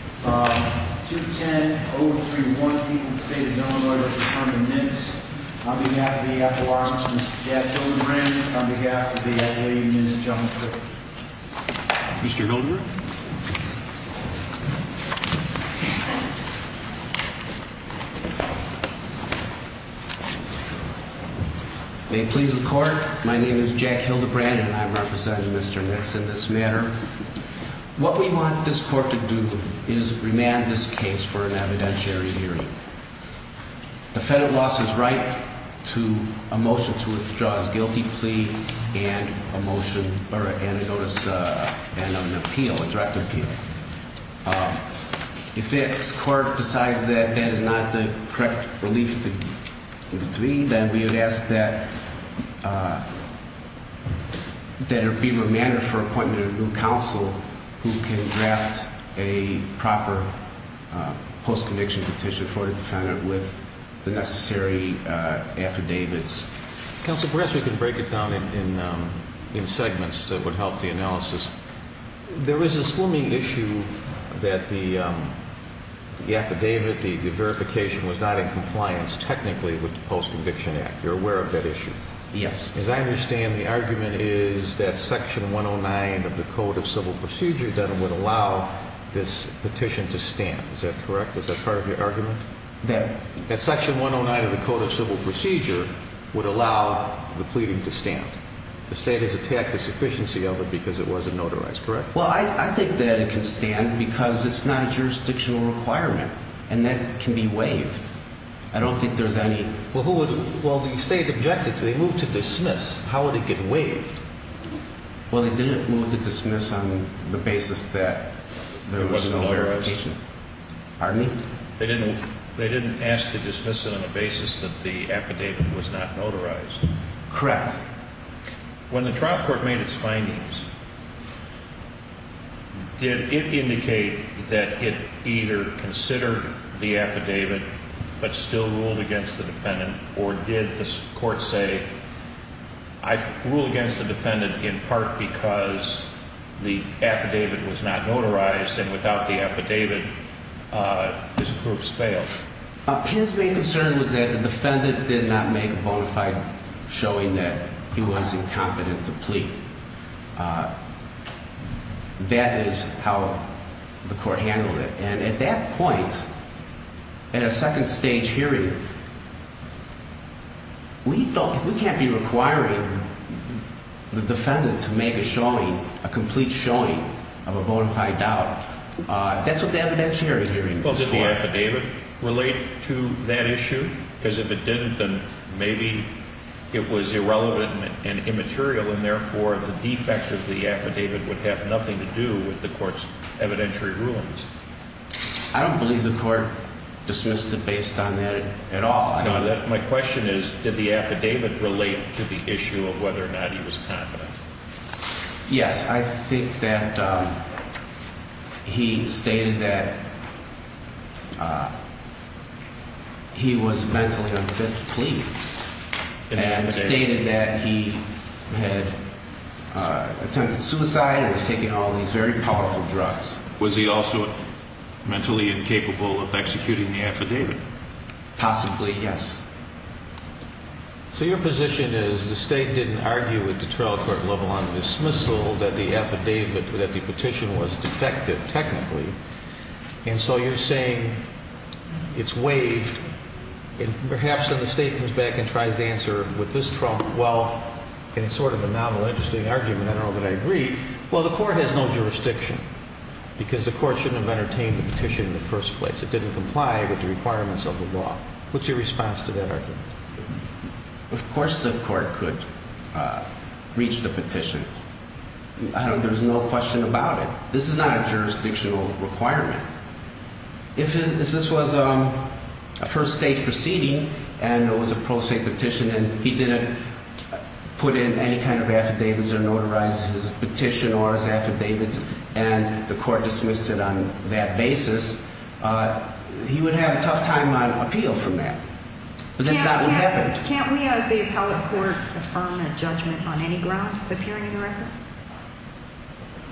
On behalf of the FAA, Mr. Jack Hildebrand, and on behalf of the FAA, Ms. Jeanne Prickett. Mr. Hildebrand? May it please the Court, my name is Jack Hildebrand and I represent Mr. Nitz in this matter. What we want this Court to do is remand this case for an evidentiary hearing. The federal law says right to a motion to withdraw a guilty plea and a motion, or a notice, and an appeal, a direct appeal. If this Court decides that that is not the correct relief to be, then we would ask that it be remanded for appointment of a new counsel who can draft a proper post-conviction petition for the defendant with the necessary affidavits. Counsel, perhaps we can break it down in segments that would help the analysis. There is a slimming issue that the affidavit, the verification was not in compliance technically with the Post-Conviction Act. You're aware of that issue? Yes. As I understand, the argument is that Section 109 of the Code of Civil Procedure that would allow this petition to stand. Is that correct? Is that part of your argument? That Section 109 of the Code of Civil Procedure would allow the pleading to stand. The State has attacked the sufficiency of it because it wasn't notarized, correct? Well, I think that it can stand because it's not a jurisdictional requirement, and that can be waived. I don't think there's any – Well, who would – well, the State objected to it. They moved to dismiss. How would it get waived? Well, they didn't move to dismiss on the basis that there was no verification. It wasn't notarized? Pardon me? They didn't ask to dismiss it on the basis that the affidavit was not notarized. Correct. When the trial court made its findings, did it indicate that it either considered the affidavit but still ruled against the defendant, or did the court say, I rule against the defendant in part because the affidavit was not notarized and without the affidavit, this group's failed? His main concern was that the defendant did not make a bona fide showing that he was incompetent to plead. That is how the court handled it. And at that point, in a second stage hearing, we can't be requiring the defendant to make a showing, a complete showing of a bona fide doubt. That's what the evidentiary hearing was for. Did the affidavit relate to that issue? Because if it didn't, then maybe it was irrelevant and immaterial, and therefore the defect of the affidavit would have nothing to do with the court's evidentiary rulings. I don't believe the court dismissed it based on that at all. My question is, did the affidavit relate to the issue of whether or not he was competent? Yes, I think that he stated that he was mentally unfit to plead and stated that he had attempted suicide and was taking all these very powerful drugs. Was he also mentally incapable of executing the affidavit? Possibly, yes. So your position is the state didn't argue with the trial court level on dismissal that the affidavit, that the petition was defective, technically. And so you're saying it's waived. And perhaps then the state comes back and tries to answer with this trunk, well, and it's sort of a novel, interesting argument. I don't know that I agree. Well, the court has no jurisdiction because the court shouldn't have entertained the petition in the first place. It didn't comply with the requirements of the law. What's your response to that argument? Of course the court could reach the petition. There's no question about it. This is not a jurisdictional requirement. If this was a first state proceeding and it was a pro se petition and he didn't put in any kind of affidavits or notarize his petition or his affidavits and the court dismissed it on that basis, he would have a tough time on appeal from that. But that's not what happened. Can't we as the appellate court affirm a judgment on any ground appearing in the record?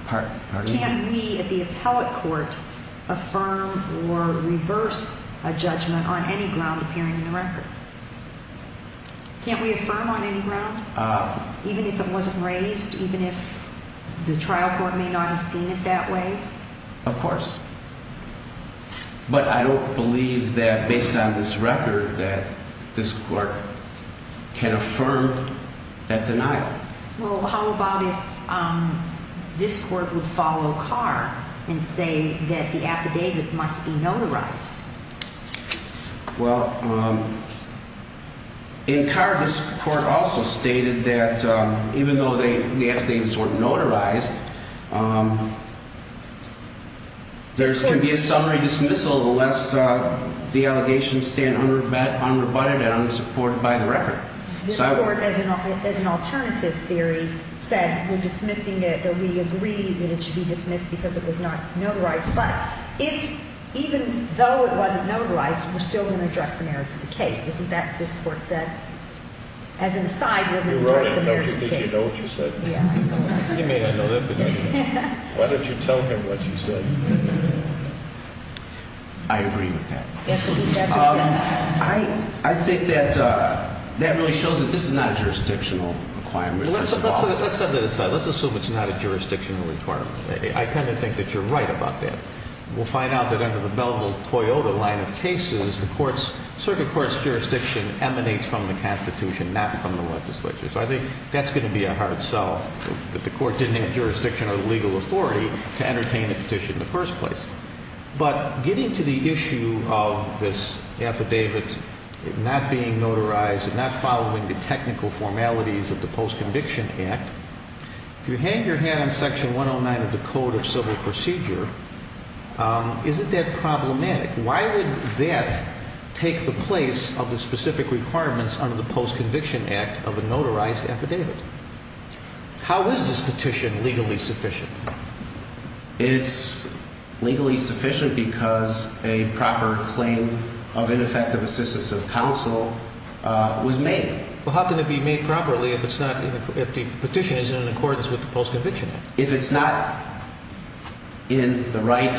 Pardon? Can we at the appellate court affirm or reverse a judgment on any ground appearing in the record? Can't we affirm on any ground? Even if it wasn't raised? Even if the trial court may not have seen it that way? Of course. But I don't believe that based on this record that this court can affirm that denial. Well, how about if this court would follow Carr and say that the affidavit must be notarized? Well, in Carr, this court also stated that even though the affidavits were notarized, there can be a summary dismissal unless the allegations stand unrebutted and unsupported by the record. This court, as an alternative theory, said we're dismissing it, that we agree that it should be dismissed because it was not notarized. But even though it wasn't notarized, we're still going to address the merits of the case. Isn't that what this court said? As an aside, we're going to address the merits of the case. You wrote it, don't you think you know what you said? Yeah, I know what I said. He may not know that, but I do. Why don't you tell him what you said? I agree with that. I think that really shows that this is not a jurisdictional requirement. Let's set that aside. Let's assume it's not a jurisdictional requirement. I tend to think that you're right about that. We'll find out that under the Belville-Toyota line of cases, the circuit court's jurisdiction emanates from the Constitution, not from the legislature. So I think that's going to be a hard sell, that the court didn't have jurisdiction or legal authority to entertain a petition in the first place. But getting to the issue of this affidavit not being notarized and not following the technical formalities of the Post-Conviction Act, if you hang your hat on Section 109 of the Code of Civil Procedure, isn't that problematic? Why would that take the place of the specific requirements under the Post-Conviction Act of a notarized affidavit? How is this petition legally sufficient? It's legally sufficient because a proper claim of ineffective assistance of counsel was made. Well, how can it be made properly if the petition is in accordance with the Post-Conviction Act? If it's not in the right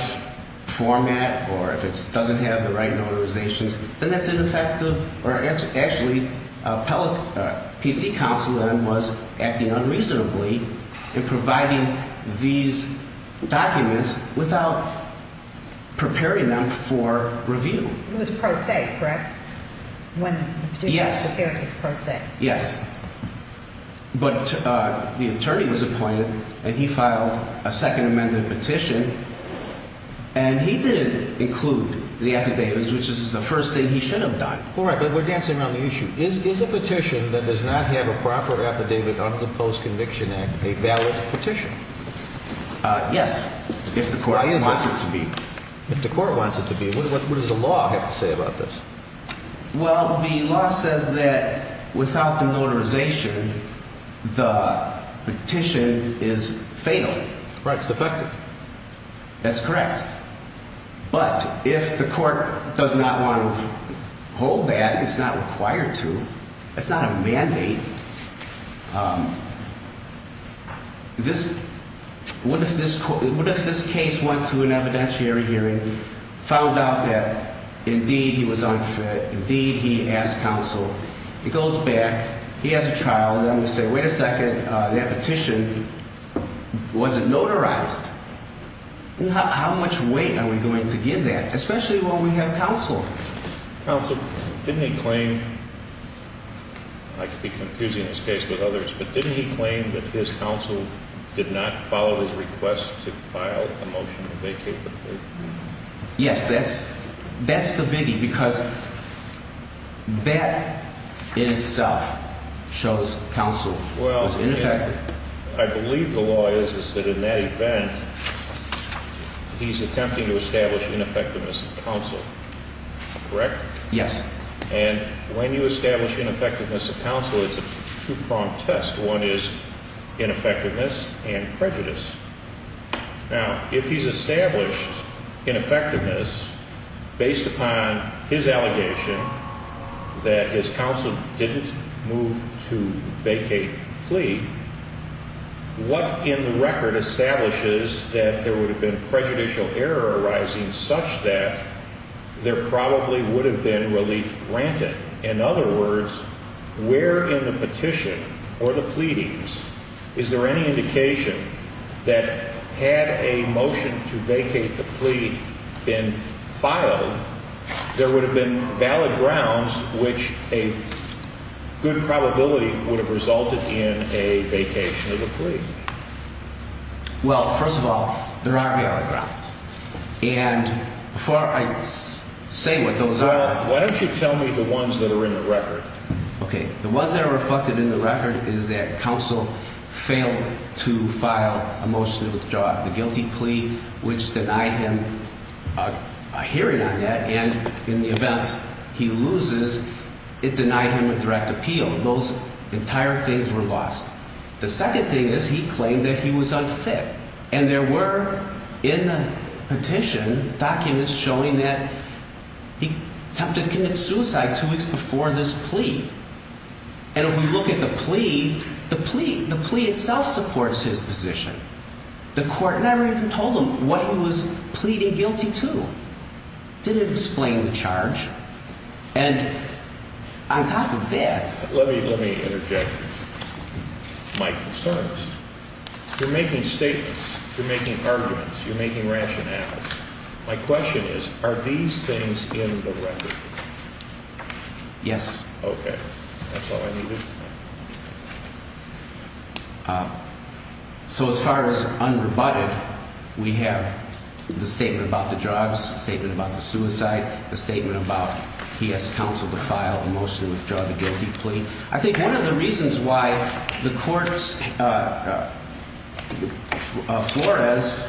format or if it doesn't have the right notarizations, then that's ineffective. Actually, PC counsel then was acting unreasonably in providing these documents without preparing them for review. It was per se, correct? Yes. Yes. But the attorney was appointed, and he filed a second amended petition, and he didn't include the affidavits, which is the first thing he should have done. All right, but we're dancing around the issue. Is a petition that does not have a proper affidavit under the Post-Conviction Act a valid petition? Yes, if the court wants it to be. If the court wants it to be. What does the law have to say about this? Well, the law says that without the notarization, the petition is fatal. Right. It's defective. That's correct. But if the court does not want to hold that, it's not required to, it's not a mandate. What if this case went to an evidentiary hearing, found out that indeed he was unfit, indeed he asked counsel? He goes back, he has a trial, and then we say, wait a second, that petition wasn't notarized. How much weight are we going to give that, especially when we have counsel? Counsel, didn't he claim, I could be confusing this case with others, but didn't he claim that his counsel did not follow his request to file a motion to vacate the petition? Yes, that's the biggie, because that in itself shows counsel was ineffective. I believe the law is that in that event, he's attempting to establish ineffectiveness of counsel. Correct? Yes. And when you establish ineffectiveness of counsel, it's a two-pronged test. One is ineffectiveness and prejudice. Now, if he's established ineffectiveness based upon his allegation that his counsel didn't move to vacate the plea, what in the record establishes that there would have been prejudicial error arising such that there probably would have been relief granted? In other words, where in the petition or the pleadings is there any indication that had a motion to vacate the plea been filed, there would have been valid grounds which a good probability would have resulted in a vacation of the plea? Well, first of all, there are valid grounds. And before I say what those are… Why don't you tell me the ones that are in the record? Okay. The ones that are reflected in the record is that counsel failed to file a motion to withdraw the guilty plea, which denied him a hearing on that. And in the event he loses, it denied him a direct appeal. Those entire things were lost. The second thing is he claimed that he was unfit. And there were, in the petition, documents showing that he attempted to commit suicide two weeks before this plea. And if we look at the plea, the plea itself supports his position. The court never even told him what he was pleading guilty to. It didn't explain the charge. And on top of that… Let me interject my concerns. You're making statements. You're making arguments. You're making rationales. My question is, are these things in the record? Yes. Okay. That's all I need to know. So as far as unrebutted, we have the statement about the drugs, the statement about the suicide, the statement about he has counsel to file a motion to withdraw the guilty plea. I think one of the reasons why the courts of Flores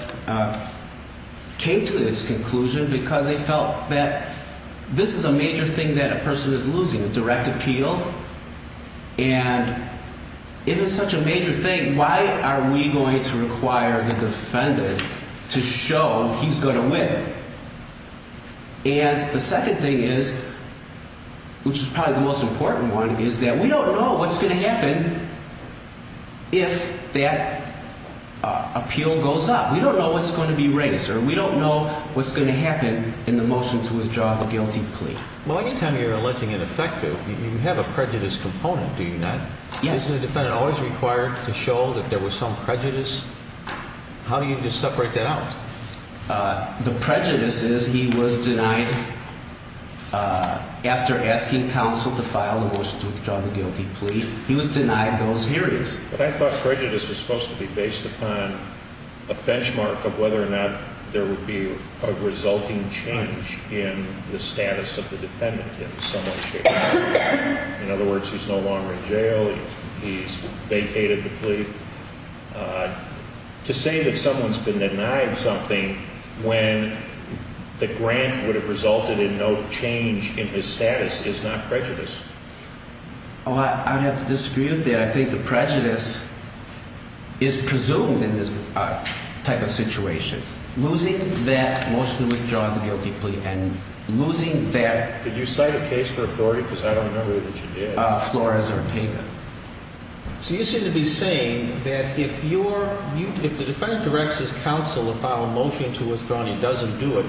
came to this conclusion because they felt that this is a major thing that a person is losing, a direct appeal. And if it's such a major thing, why are we going to require the defendant to show he's going to win? And the second thing is, which is probably the most important one, is that we don't know what's going to happen if that appeal goes up. We don't know what's going to be raised, or we don't know what's going to happen in the motion to withdraw the guilty plea. Well, any time you're alleging ineffective, you have a prejudice component, do you not? Yes. Isn't the defendant always required to show that there was some prejudice? How do you just separate that out? The prejudice is he was denied, after asking counsel to file a motion to withdraw the guilty plea, he was denied those hearings. But I thought prejudice was supposed to be based upon a benchmark of whether or not there would be a resulting change in the status of the defendant if someone showed up. In other words, he's no longer in jail, he's vacated the plea. To say that someone's been denied something when the grant would have resulted in no change in his status is not prejudice. Oh, I'd have to disagree with that. I think the prejudice is presumed in this type of situation. Losing that motion to withdraw the guilty plea and losing that… Did you cite a case for authority? Because I don't remember that you did. Flores-Ortega. So you seem to be saying that if the defendant directs his counsel to file a motion to withdraw and he doesn't do it,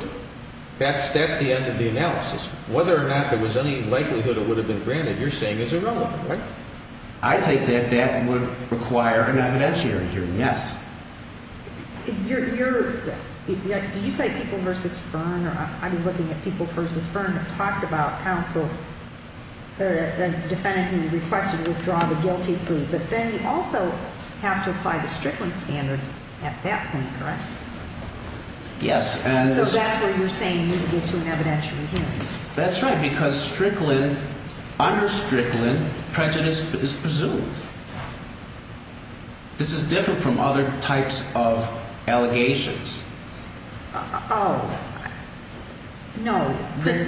that's the end of the analysis. Whether or not there was any likelihood it would have been granted, you're saying is irrelevant, right? I think that that would require an evidentiary hearing, yes. You're – did you cite People v. Fern? I was looking at People v. Fern that talked about counsel – the defendant who requested to withdraw the guilty plea. But then you also have to apply the Strickland standard at that point, correct? Yes. So that's where you're saying you need to get to an evidentiary hearing. That's right, because Strickland – under Strickland, prejudice is presumed. This is different from other types of allegations. Oh, no.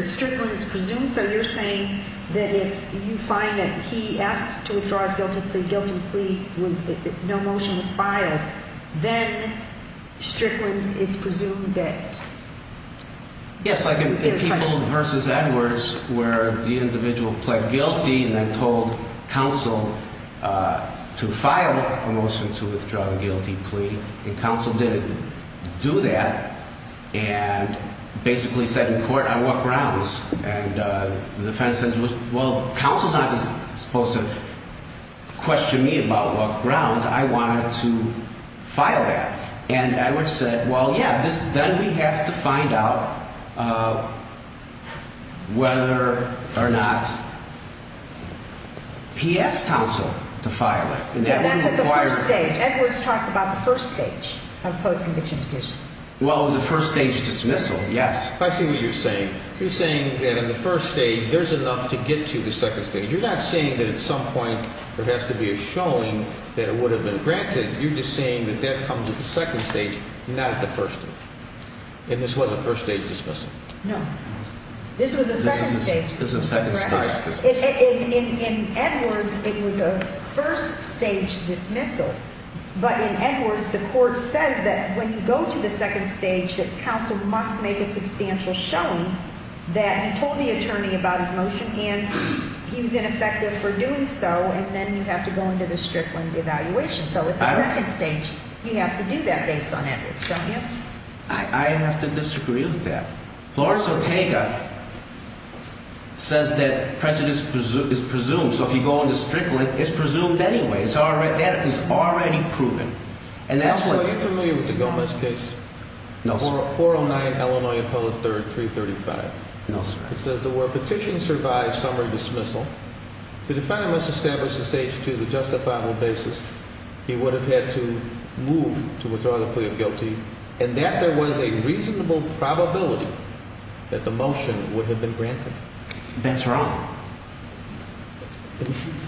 Strickland is presumed, so you're saying that if you find that he asked to withdraw his guilty plea, guilty plea was – no motion was filed, then Strickland is presumed that… Yes, like in People v. Edwards where the individual pled guilty and then told counsel to file a motion to withdraw the guilty plea. And counsel didn't do that and basically said in court, I walk grounds. And the defendant says, well, counsel's not supposed to question me about walk grounds. I wanted to file that. And Edwards said, well, yeah, then we have to find out whether or not P.S. counsel to file it. Edwards talks about the first stage of the post-conviction petition. Well, it was a first-stage dismissal, yes. I see what you're saying. You're saying that in the first stage there's enough to get to the second stage. You're not saying that at some point there has to be a showing that it would have been granted. You're just saying that that comes with the second stage, not the first stage. And this was a first-stage dismissal. No. This was a second-stage. This was a second-stage dismissal. In Edwards, it was a first-stage dismissal. But in Edwards, the court says that when you go to the second stage that counsel must make a substantial showing that he told the attorney about his motion and he was ineffective for doing so, and then you have to go into the Strickland evaluation. So, at the second stage, you have to do that based on Edwards, don't you? I have to disagree with that. Florence Ortega says that prejudice is presumed. So, if you go into Strickland, it's presumed anyway. That is already proven. Are you familiar with the Gomez case? No, sir. 409 Illinois Appellate 3rd, 335. No, sir. It says that where petition survives summary dismissal, the defendant must establish the stage to the justifiable basis he would have had to move to withdraw the plea of guilty and that there was a reasonable probability that the motion would have been granted. That's wrong.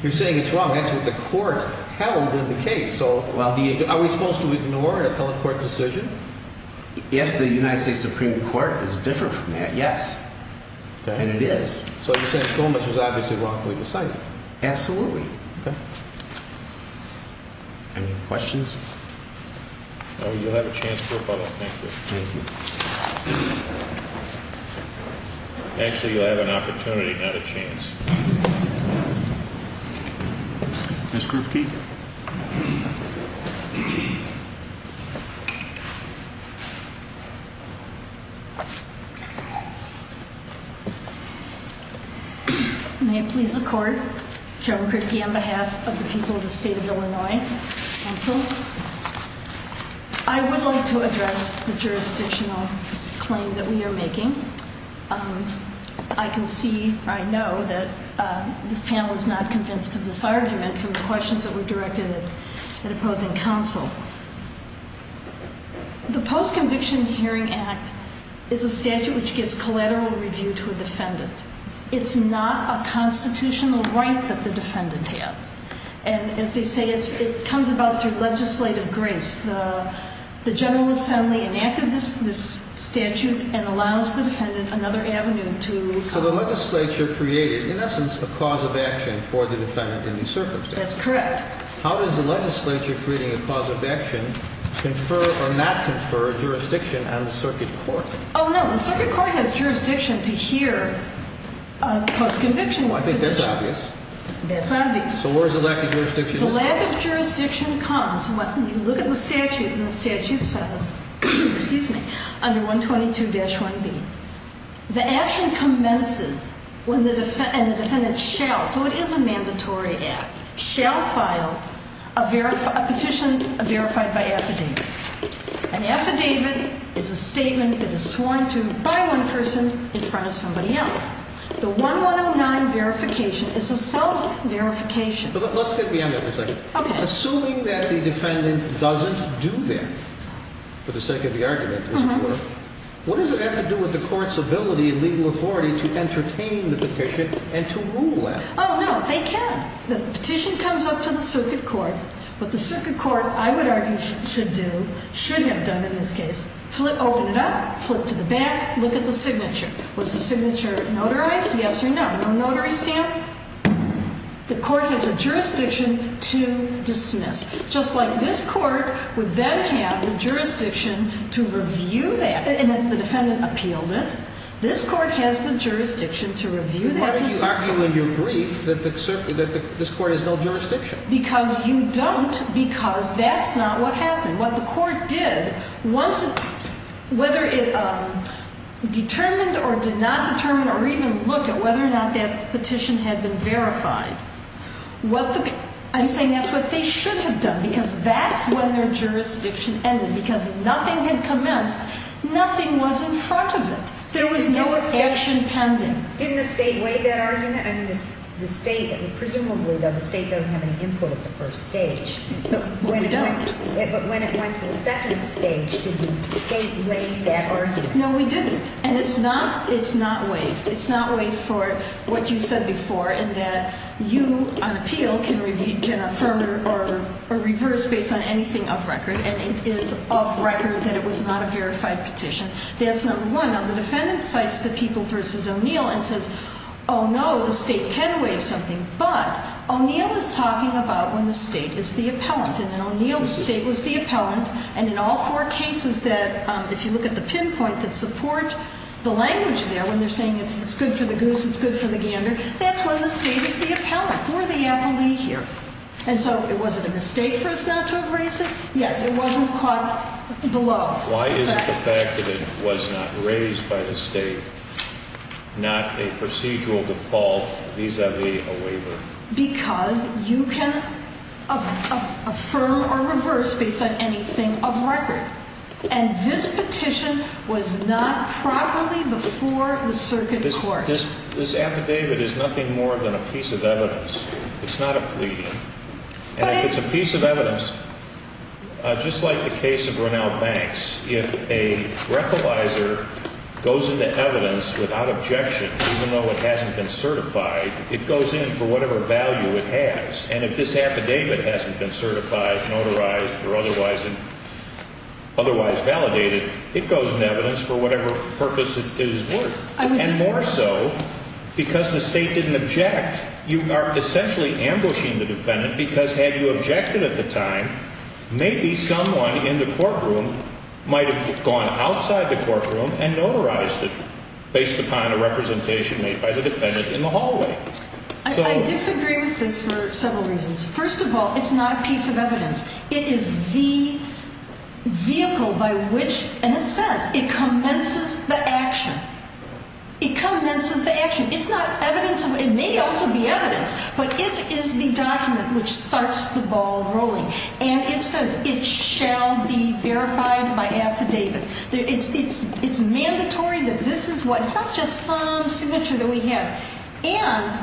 You're saying it's wrong. That's what the court held in the case. So, are we supposed to ignore an appellate court decision? If the United States Supreme Court is different from that, yes. And it is. So, you're saying Gomez was obviously wrongfully decided? Absolutely. Okay. Any questions? You'll have a chance to rebuttal. Thank you. Thank you. Actually, you'll have an opportunity, not a chance. Ms. Krupke? May it please the court? Joan Krupke on behalf of the people of the State of Illinois Council. I would like to address the jurisdictional claim that we are making. I can see, I know that this panel is not convinced of this argument from the questions that were directed at opposing counsel. The Post-Conviction Hearing Act is a statute which gives collateral review to a defendant. It's not a constitutional right that the defendant has. And as they say, it comes about through legislative grace. The General Assembly enacted this statute and allows the defendant another avenue to come. So, the legislature created, in essence, a cause of action for the defendant in these circumstances. That's correct. How does the legislature creating a cause of action confer or not confer jurisdiction on the circuit court? Oh, no. The circuit court has jurisdiction to hear a post-conviction petition. Oh, I think that's obvious. That's obvious. So, where does the lack of jurisdiction come from? The lack of jurisdiction comes. You look at the statute and the statute says, excuse me, under 122-1B, the action commences when the defendant shall, so it is a mandatory act, shall file a petition verified by affidavit. An affidavit is a statement that is sworn to by one person in front of somebody else. The 1109 verification is a self-verification. Let's get beyond that for a second. Okay. Assuming that the defendant doesn't do that, for the sake of the argument, what does that have to do with the court's ability and legal authority to entertain the petition and to rule it? Oh, no. They can. The petition comes up to the circuit court. What the circuit court, I would argue, should do, should have done in this case, flip open it up, flip to the back, look at the signature. Was the signature notarized? Yes or no. No notary stamp? The court has a jurisdiction to dismiss. Just like this court would then have the jurisdiction to review that, and if the defendant appealed it, this court has the jurisdiction to review that decision. Why are you arguing in your brief that this court has no jurisdiction? Because you don't, because that's not what happened. What the court did was, whether it determined or did not determine or even look at whether or not that petition had been verified, I'm saying that's what they should have done, because that's when their jurisdiction ended, because nothing had commenced, nothing was in front of it. There was no action pending. Didn't the state waive that argument? I mean, the state, presumably, though, the state doesn't have any input at the first stage. But we don't. But when it went to the second stage, did the state waive that argument? No, we didn't. And it's not waived. It's not waived for what you said before, in that you, on appeal, can affirm or reverse based on anything off record, and it is off record that it was not a verified petition. That's number one. Now, the defendant cites the people versus O'Neill and says, oh, no, the state can waive something. But O'Neill is talking about when the state is the appellant. And then O'Neill's state was the appellant. And in all four cases that, if you look at the pinpoint that support the language there, when they're saying it's good for the goose, it's good for the gander, that's when the state is the appellant. We're the appellee here. And so was it a mistake for us not to have raised it? Yes, it wasn't caught below. Why is it the fact that it was not raised by the state, not a procedural default vis-a-vis a waiver? Because you can affirm or reverse based on anything off record. And this petition was not properly before the circuit court. This affidavit is nothing more than a piece of evidence. It's not a plea. And if it's a piece of evidence, just like the case of Grinnell Banks, if a breathalyzer goes into evidence without objection, even though it hasn't been certified, it goes in for whatever value it has. And if this affidavit hasn't been certified, notarized or otherwise validated, it goes in evidence for whatever purpose it is worth. And more so because the state didn't object. You are essentially ambushing the defendant because had you objected at the time, maybe someone in the courtroom might have gone outside the courtroom and notarized it based upon a representation made by the defendant in the hallway. I disagree with this for several reasons. First of all, it's not a piece of evidence. It is the vehicle by which, in a sense, it commences the action. It commences the action. It may also be evidence, but it is the document which starts the ball rolling. And it says it shall be verified by affidavit. It's mandatory that this is what, it's not just some signature that we have. And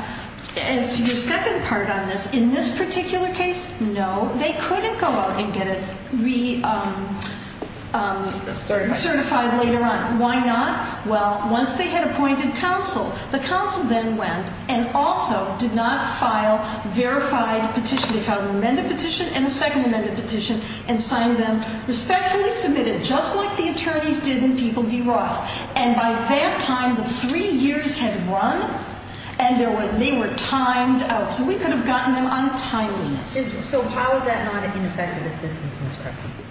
as to your second part on this, in this particular case, no, they couldn't go out and get it re-certified later on. Why not? Well, once they had appointed counsel, the counsel then went and also did not file verified petition. They filed an amended petition and a second amended petition and signed them, respectfully submitted, just like the attorneys did in People v. Roth. And by that time, the three years had run and they were timed out. So we could have gotten them on timeliness. So how is that not an ineffective assistance, Ms. Crofty?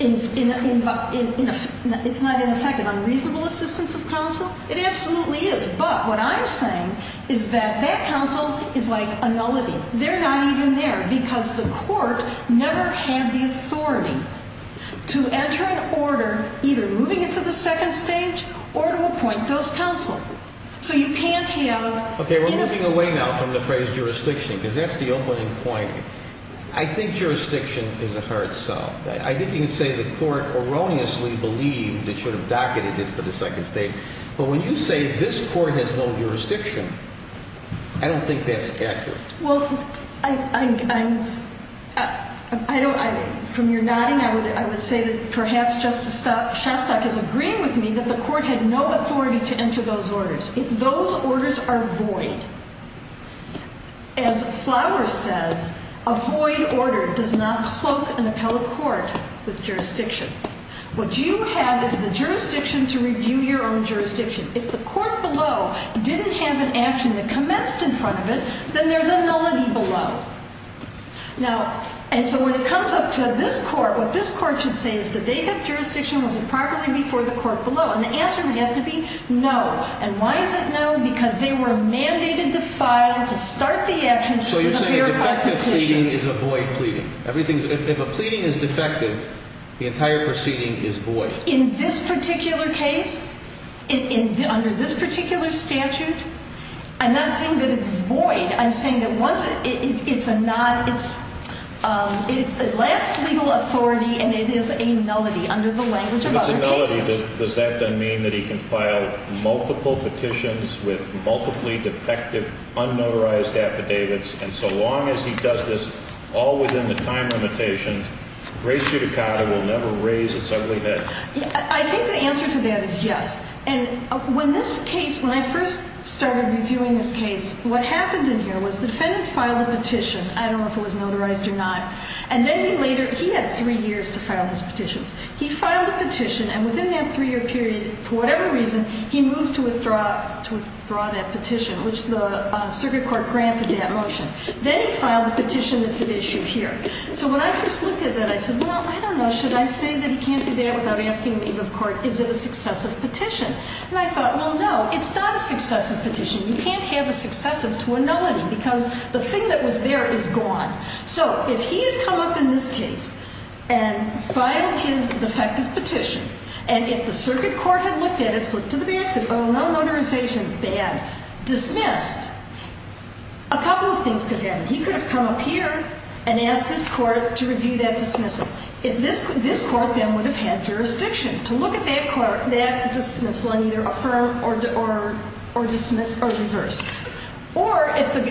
It's not ineffective. Unreasonable assistance of counsel? It absolutely is. But what I'm saying is that that counsel is like a nullity. They're not even there because the court never had the authority to enter an order either moving it to the second stage or to appoint those counsel. So you can't have – Okay, we're moving away now from the phrase jurisdiction because that's the opening point. I think jurisdiction is a hard sell. I think you can say the court erroneously believed it should have docketed it for the second stage. But when you say this court has no jurisdiction, I don't think that's accurate. Well, I don't – from your nodding, I would say that perhaps Justice Shostak is agreeing with me that the court had no authority to enter those orders. If those orders are void, as Flowers says, a void order does not cloak an appellate court with jurisdiction. What you have is the jurisdiction to review your own jurisdiction. If the court below didn't have an action that commenced in front of it, then there's a nullity below. Now – and so when it comes up to this court, what this court should say is did they have jurisdiction? Was it properly before the court below? And the answer has to be no. And why is it no? Because they were mandated to file, to start the action with a verified petition. So you're saying a defective pleading is a void pleading. If a pleading is defective, the entire proceeding is void. In this particular case, under this particular statute, I'm not saying that it's void. I'm saying that once – it's a not – it lacks legal authority and it is a nullity under the language of other cases. Does that then mean that he can file multiple petitions with multiply defective, unnotarized affidavits, and so long as he does this all within the time limitations, Grace Judicata will never raise its ugly head? I think the answer to that is yes. And when this case – when I first started reviewing this case, what happened in here was the defendant filed a petition. I don't know if it was notarized or not. And then he later – he had three years to file his petitions. He filed a petition, and within that three-year period, for whatever reason, he moved to withdraw that petition, which the circuit court granted that motion. Then he filed the petition that's at issue here. So when I first looked at that, I said, well, I don't know. Should I say that he can't do that without asking leave of court? Is it a successive petition? And I thought, well, no, it's not a successive petition. You can't have a successive to a nullity because the thing that was there is gone. So if he had come up in this case and filed his defective petition, and if the circuit court had looked at it, flipped to the back, said, oh, no notarization, bad, dismissed, a couple of things could have happened. He could have come up here and asked this court to review that dismissal. This court then would have had jurisdiction to look at that dismissal and either affirm or dismiss or reverse. Or if the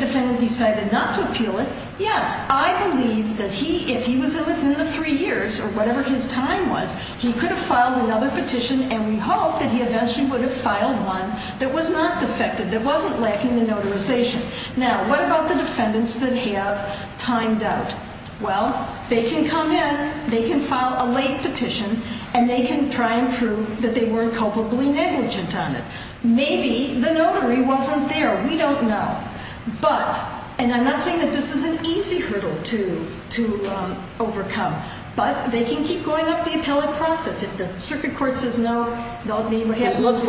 defendant decided not to appeal it, yes, I believe that if he was within the three years, or whatever his time was, he could have filed another petition, and we hope that he eventually would have filed one that was not defective, that wasn't lacking the notarization. Now, what about the defendants that have timed out? Well, they can come in, they can file a late petition, and they can try and prove that they weren't culpably negligent on it. Maybe the notary wasn't there. We don't know. But, and I'm not saying that this is an easy hurdle to overcome, but they can keep going up the appellate process. If the circuit court says no, they'll be right back. Let's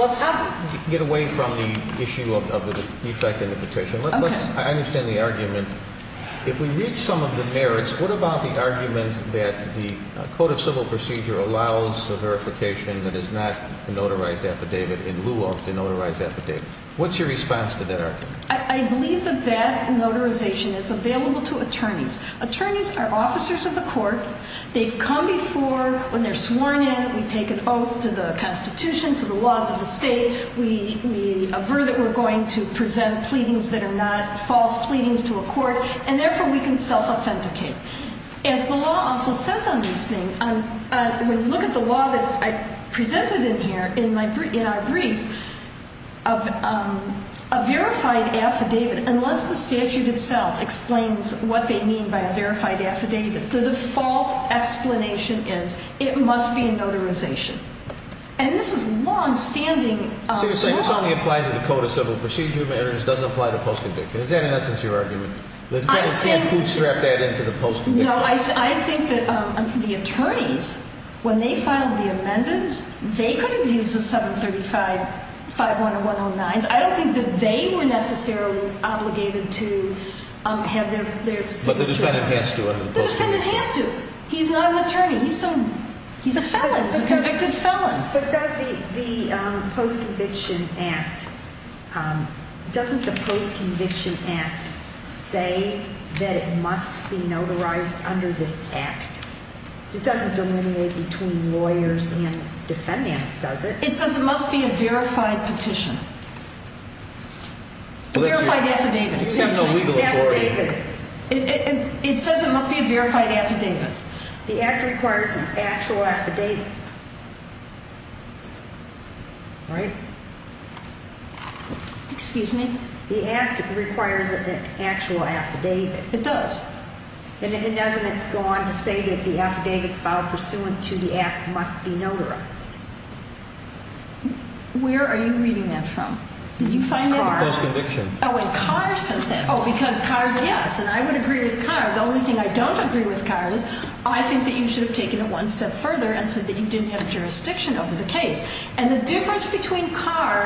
get away from the issue of the defect in the petition. Okay. I understand the argument. If we reach some of the merits, what about the argument that the Code of Civil Procedure allows a verification that is not a notarized affidavit in lieu of the notarized affidavit? What's your response to that argument? I believe that that notarization is available to attorneys. Attorneys are officers of the court. They've come before. When they're sworn in, we take an oath to the Constitution, to the laws of the state. We aver that we're going to present pleadings that are not false pleadings to a court, and therefore we can self-authenticate. As the law also says on these things, when you look at the law that I presented in here in our brief, a verified affidavit, unless the statute itself explains what they mean by a verified affidavit, the default explanation is it must be a notarization. And this is longstanding law. So you're saying this only applies to the Code of Civil Procedure, but it doesn't apply to post-conviction? Is that, in essence, your argument? I think that the attorneys, when they filed the amendments, they could have used the 735, 510, 109s. I don't think that they were necessarily obligated to have their signature on that. But the defendant has to under the post-conviction. The defendant has to. He's not an attorney. He's a felon. He's a convicted felon. But does the post-conviction act, doesn't the post-conviction act say that it must be notarized under this act? It doesn't delineate between lawyers and defendants, does it? It says it must be a verified petition. Verified affidavit. It says it must be a verified affidavit. The act requires an actual affidavit, right? Excuse me? The act requires an actual affidavit. It does. And doesn't it go on to say that the affidavits filed pursuant to the act must be notarized? Where are you reading that from? Did you find it? Post-conviction. Oh, and Carr says that. Oh, because Carr says that. Yes, and I would agree with Carr. The only thing I don't agree with Carr is I think that you should have taken it one step further and said that you didn't have jurisdiction over the case. And the difference between Carr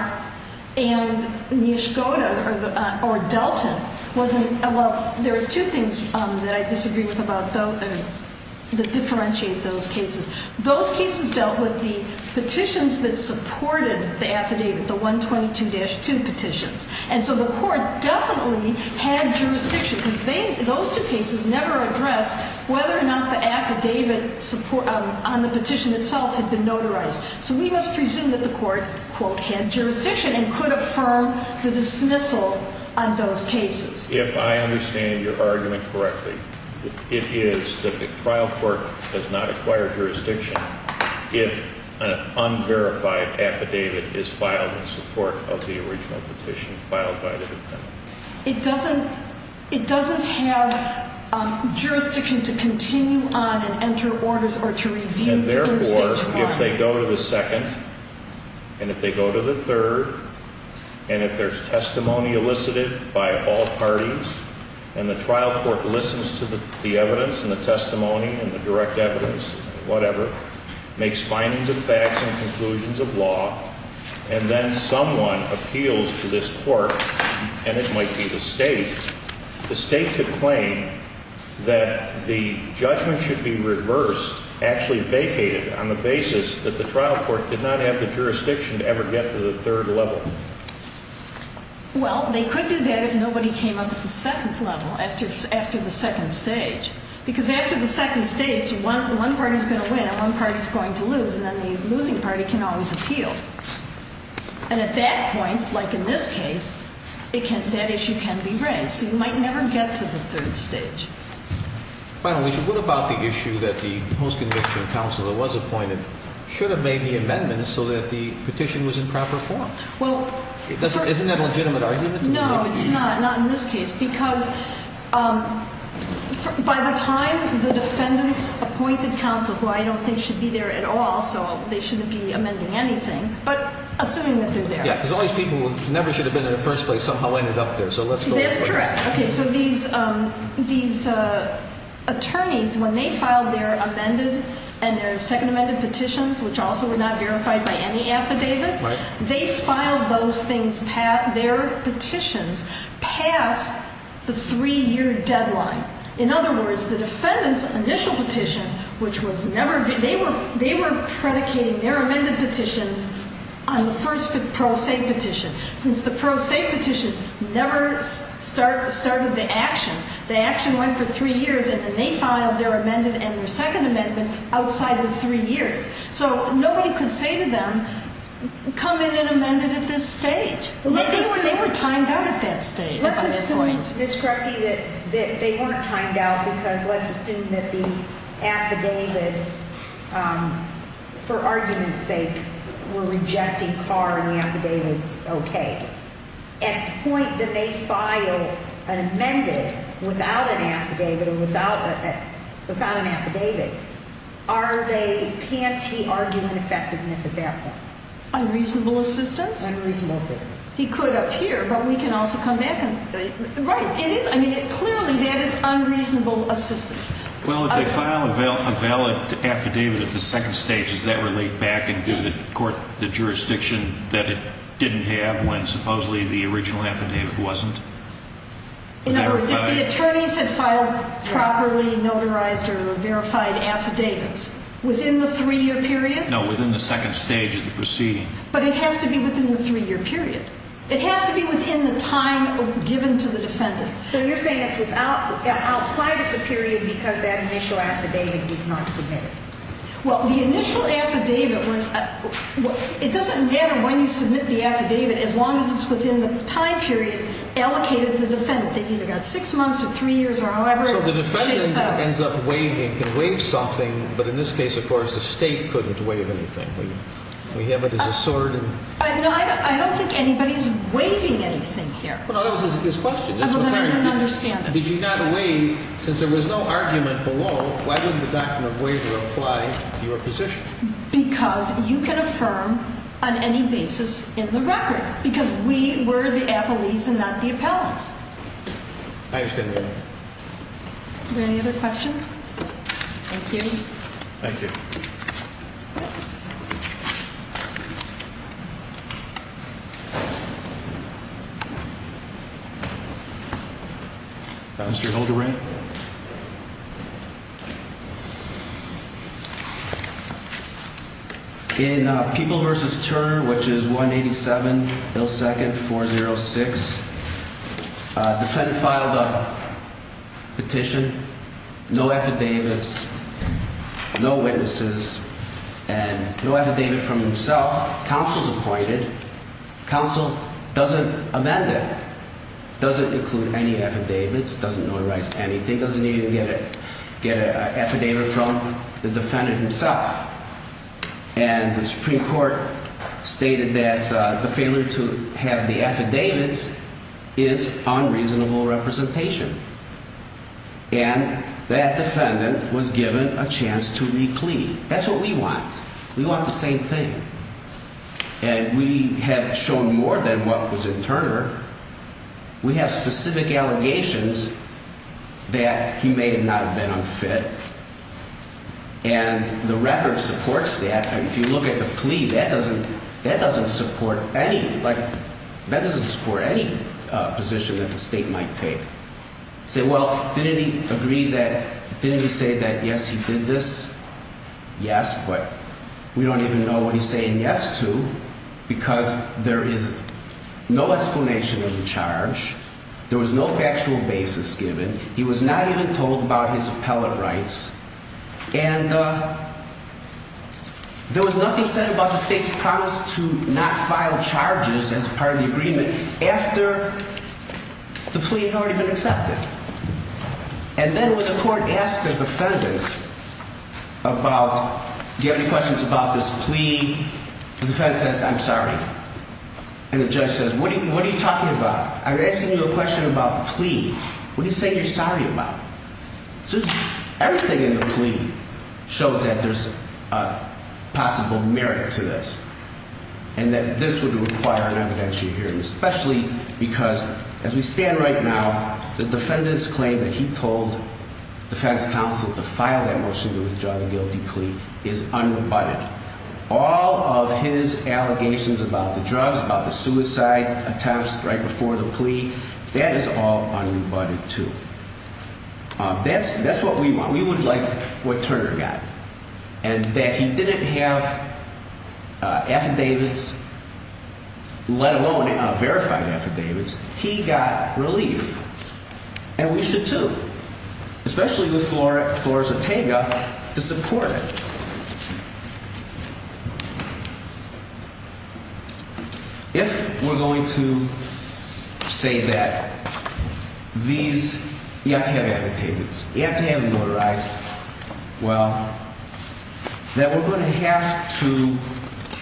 and Nishkoda or Delton was in, well, there was two things that I disagree with about those that differentiate those cases. Those cases dealt with the petitions that supported the affidavit, the 122-2 petitions. And so the court definitely had jurisdiction because those two cases never addressed whether or not the affidavit on the petition itself had been notarized. So we must presume that the court, quote, had jurisdiction and could affirm the dismissal on those cases. If I understand your argument correctly, it is that the trial court does not acquire jurisdiction if an unverified affidavit is filed in support of the original petition filed by the defendant. It doesn't have jurisdiction to continue on and enter orders or to review the instinctuality. And therefore, if they go to the second and if they go to the third and if there's testimony elicited by all parties and the trial court listens to the evidence and the testimony and the direct evidence, whatever, makes findings of facts and conclusions of law, and then someone appeals to this court, and it might be the state, the state could claim that the judgment should be reversed, actually vacated, on the basis that the trial court did not have the jurisdiction to ever get to the third level. Well, they could do that if nobody came up with the second level after the second stage. Because after the second stage, one party's going to win and one party's going to lose, and then the losing party can always appeal. And at that point, like in this case, that issue can be raised. So you might never get to the third stage. Finally, what about the issue that the post-conviction counsel that was appointed should have made the amendment so that the petition was in proper form? Isn't that a legitimate argument? No, it's not. Not in this case. Because by the time the defendants appointed counsel, who I don't think should be there at all, so they shouldn't be amending anything, but assuming that they're there. Yeah, because all these people who never should have been there in the first place somehow ended up there. So let's go with that. That's correct. Okay, so these attorneys, when they filed their amended and their second amended petitions, which also were not verified by any affidavit, they filed those things, their petitions, past the three-year deadline. In other words, the defendant's initial petition, which was never – they were predicating their amended petitions on the first pro se petition. Since the pro se petition never started the action, the action went for three years, and then they filed their amended and their second amendment outside the three years. So nobody could say to them, come in and amend it at this stage. They were timed out at that stage. Let's assume, Ms. Krupke, that they weren't timed out because let's assume that the affidavit, for argument's sake, were rejected par and the affidavit's okay. At the point that they file an amended without an affidavit or without an affidavit, are they – can't he argue ineffectiveness at that point? Unreasonable assistance? Unreasonable assistance. He could up here, but we can also come back and – right. I mean, clearly that is unreasonable assistance. Well, if they file a valid affidavit at the second stage, does that relate back into the court – the jurisdiction that it didn't have when supposedly the original affidavit wasn't verified? In other words, if the attorneys had filed properly notarized or verified affidavits within the three-year period? No, within the second stage of the proceeding. But it has to be within the three-year period. It has to be within the time given to the defendant. So you're saying it's outside of the period because that initial affidavit was not submitted? Well, the initial affidavit – it doesn't matter when you submit the affidavit as long as it's within the time period allocated to the defendant. They've either got six months or three years or however it shakes out. So the defendant ends up waiving and can waive something, but in this case, of course, the State couldn't waive anything. We have it as a sword and – No, I don't think anybody's waiving anything here. Well, that was his question. I don't understand it. Did you not waive – since there was no argument below, why didn't the document waiver apply to your position? Because you can affirm on any basis in the record because we were the appellees and not the appellants. I understand that. Are there any other questions? Thank you. Thank you. Mr. Hildebrand? Thank you. In People v. Turner, which is 187 Hill 2nd 406, the defendant filed a petition, no affidavits, no witnesses, and no affidavit from himself. Counsel's appointed. Counsel doesn't amend it. Doesn't include any affidavits, doesn't notarize anything, doesn't even get an affidavit from the defendant himself. And the Supreme Court stated that the failure to have the affidavits is unreasonable representation. And that defendant was given a chance to reclaim. That's what we want. We want the same thing. And we have shown more than what was in Turner. We have specific allegations that he may not have been unfit. And the record supports that. And if you look at the plea, that doesn't support any, like, that doesn't support any position that the State might take. Say, well, didn't he agree that, didn't he say that, yes, he did this? Yes, but we don't even know what he's saying yes to because there is no explanation of the charge. There was no factual basis given. He was not even told about his appellate rights. And there was nothing said about the State's promise to not file charges as part of the agreement after the plea had already been accepted. And then when the court asked the defendant about, do you have any questions about this plea, the defendant says, I'm sorry. And the judge says, what are you talking about? I'm asking you a question about the plea. What do you say you're sorry about? Everything in the plea shows that there's a possible merit to this and that this would require an evidentiary hearing, especially because as we stand right now, the defendant's claim that he told defense counsel to file that motion to withdraw the guilty plea is unrebutted. All of his allegations about the drugs, about the suicide attempts right before the plea, that is all unrebutted, too. That's what we want. We would like what Turner got. And that he didn't have affidavits, let alone verified affidavits. He got relief. And we should, too, especially with Flores Ortega, to support it. If we're going to say that these, you have to have amputations, you have to have a motorized, well, that we're going to have to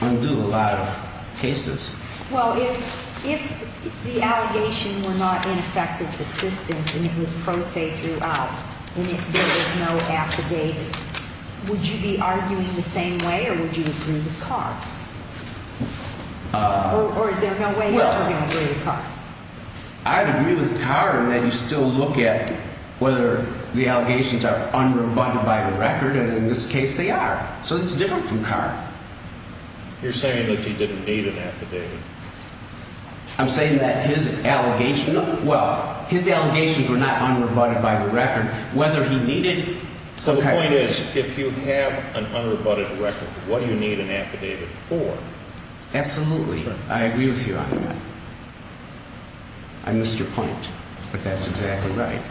undo a lot of cases. Well, if the allegation were not ineffective assistance and it was pro se throughout and there was no affidavit, would you be arguing the same way or would you agree with Carr? Or is there no way that you're going to agree with Carr? I'd agree with Carr in that you still look at whether the allegations are unrebutted by the record, and in this case they are. So it's different from Carr. You're saying that he didn't need an affidavit. I'm saying that his allegations, well, his allegations were not unrebutted by the record. The point is, if you have an unrebutted record, what do you need an affidavit for? Absolutely. I agree with you on that. I missed your point, but that's exactly right.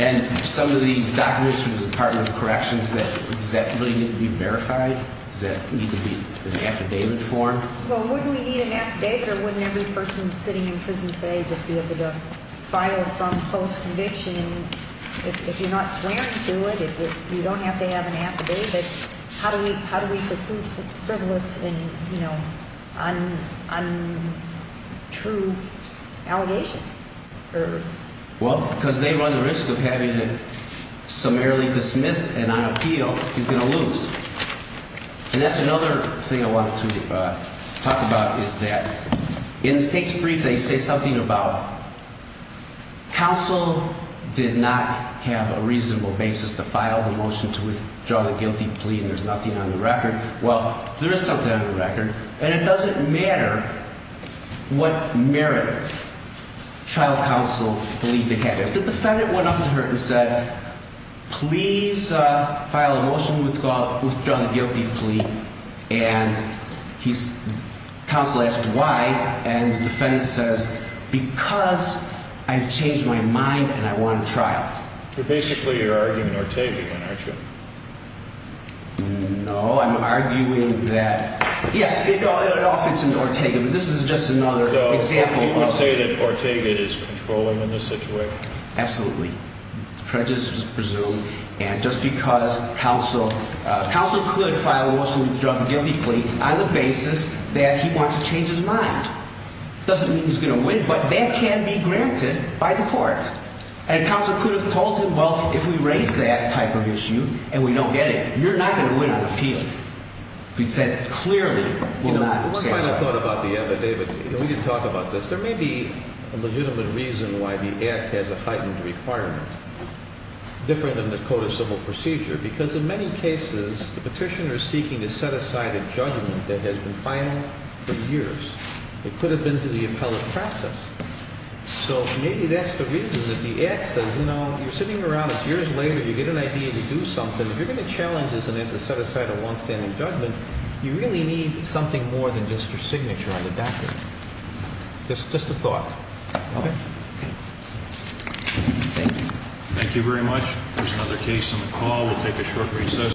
And some of these documents from the Department of Corrections, does that really need to be verified? Does that need to be in affidavit form? Well, wouldn't we need an affidavit or wouldn't every person sitting in prison today just be able to file some post-conviction? If you're not swearing to it, you don't have to have an affidavit. How do we conclude frivolous and untrue allegations? Well, because they run the risk of having it summarily dismissed and on appeal, he's going to lose. And that's another thing I wanted to talk about, is that in the State's brief, they say something about counsel did not have a reasonable basis to file the motion to withdraw the guilty plea and there's nothing on the record. Well, there is something on the record, and it doesn't matter what merit trial counsel believed it had. If the defendant went up to her and said, please file a motion to withdraw the guilty plea, and counsel asked why, and the defendant says, because I've changed my mind and I want a trial. But basically you're arguing Ortega again, aren't you? No, I'm arguing that, yes, it all fits into Ortega, but this is just another example. So you would say that Ortega is controlling in this situation? Absolutely. Prejudice is presumed. And just because counsel could file a motion to withdraw the guilty plea on the basis that he wants to change his mind, doesn't mean he's going to win, but that can be granted by the court. And counsel could have told him, well, if we raise that type of issue and we don't get it, you're not going to win an appeal. Because that clearly will not satisfy. One final thought about the other, David. We didn't talk about this. There may be a legitimate reason why the Act has a heightened requirement, different than the Code of Civil Procedure, because in many cases the petitioner is seeking to set aside a judgment that has been final for years. It could have been to the appellate process. So maybe that's the reason that the Act says, you know, you're sitting around, it's years later, you get an idea to do something. If you're going to challenge this and set aside a longstanding judgment, you really need something more than just your signature on the document. Just a thought. Thank you. Thank you very much. There's another case on the call. We'll take a short recess.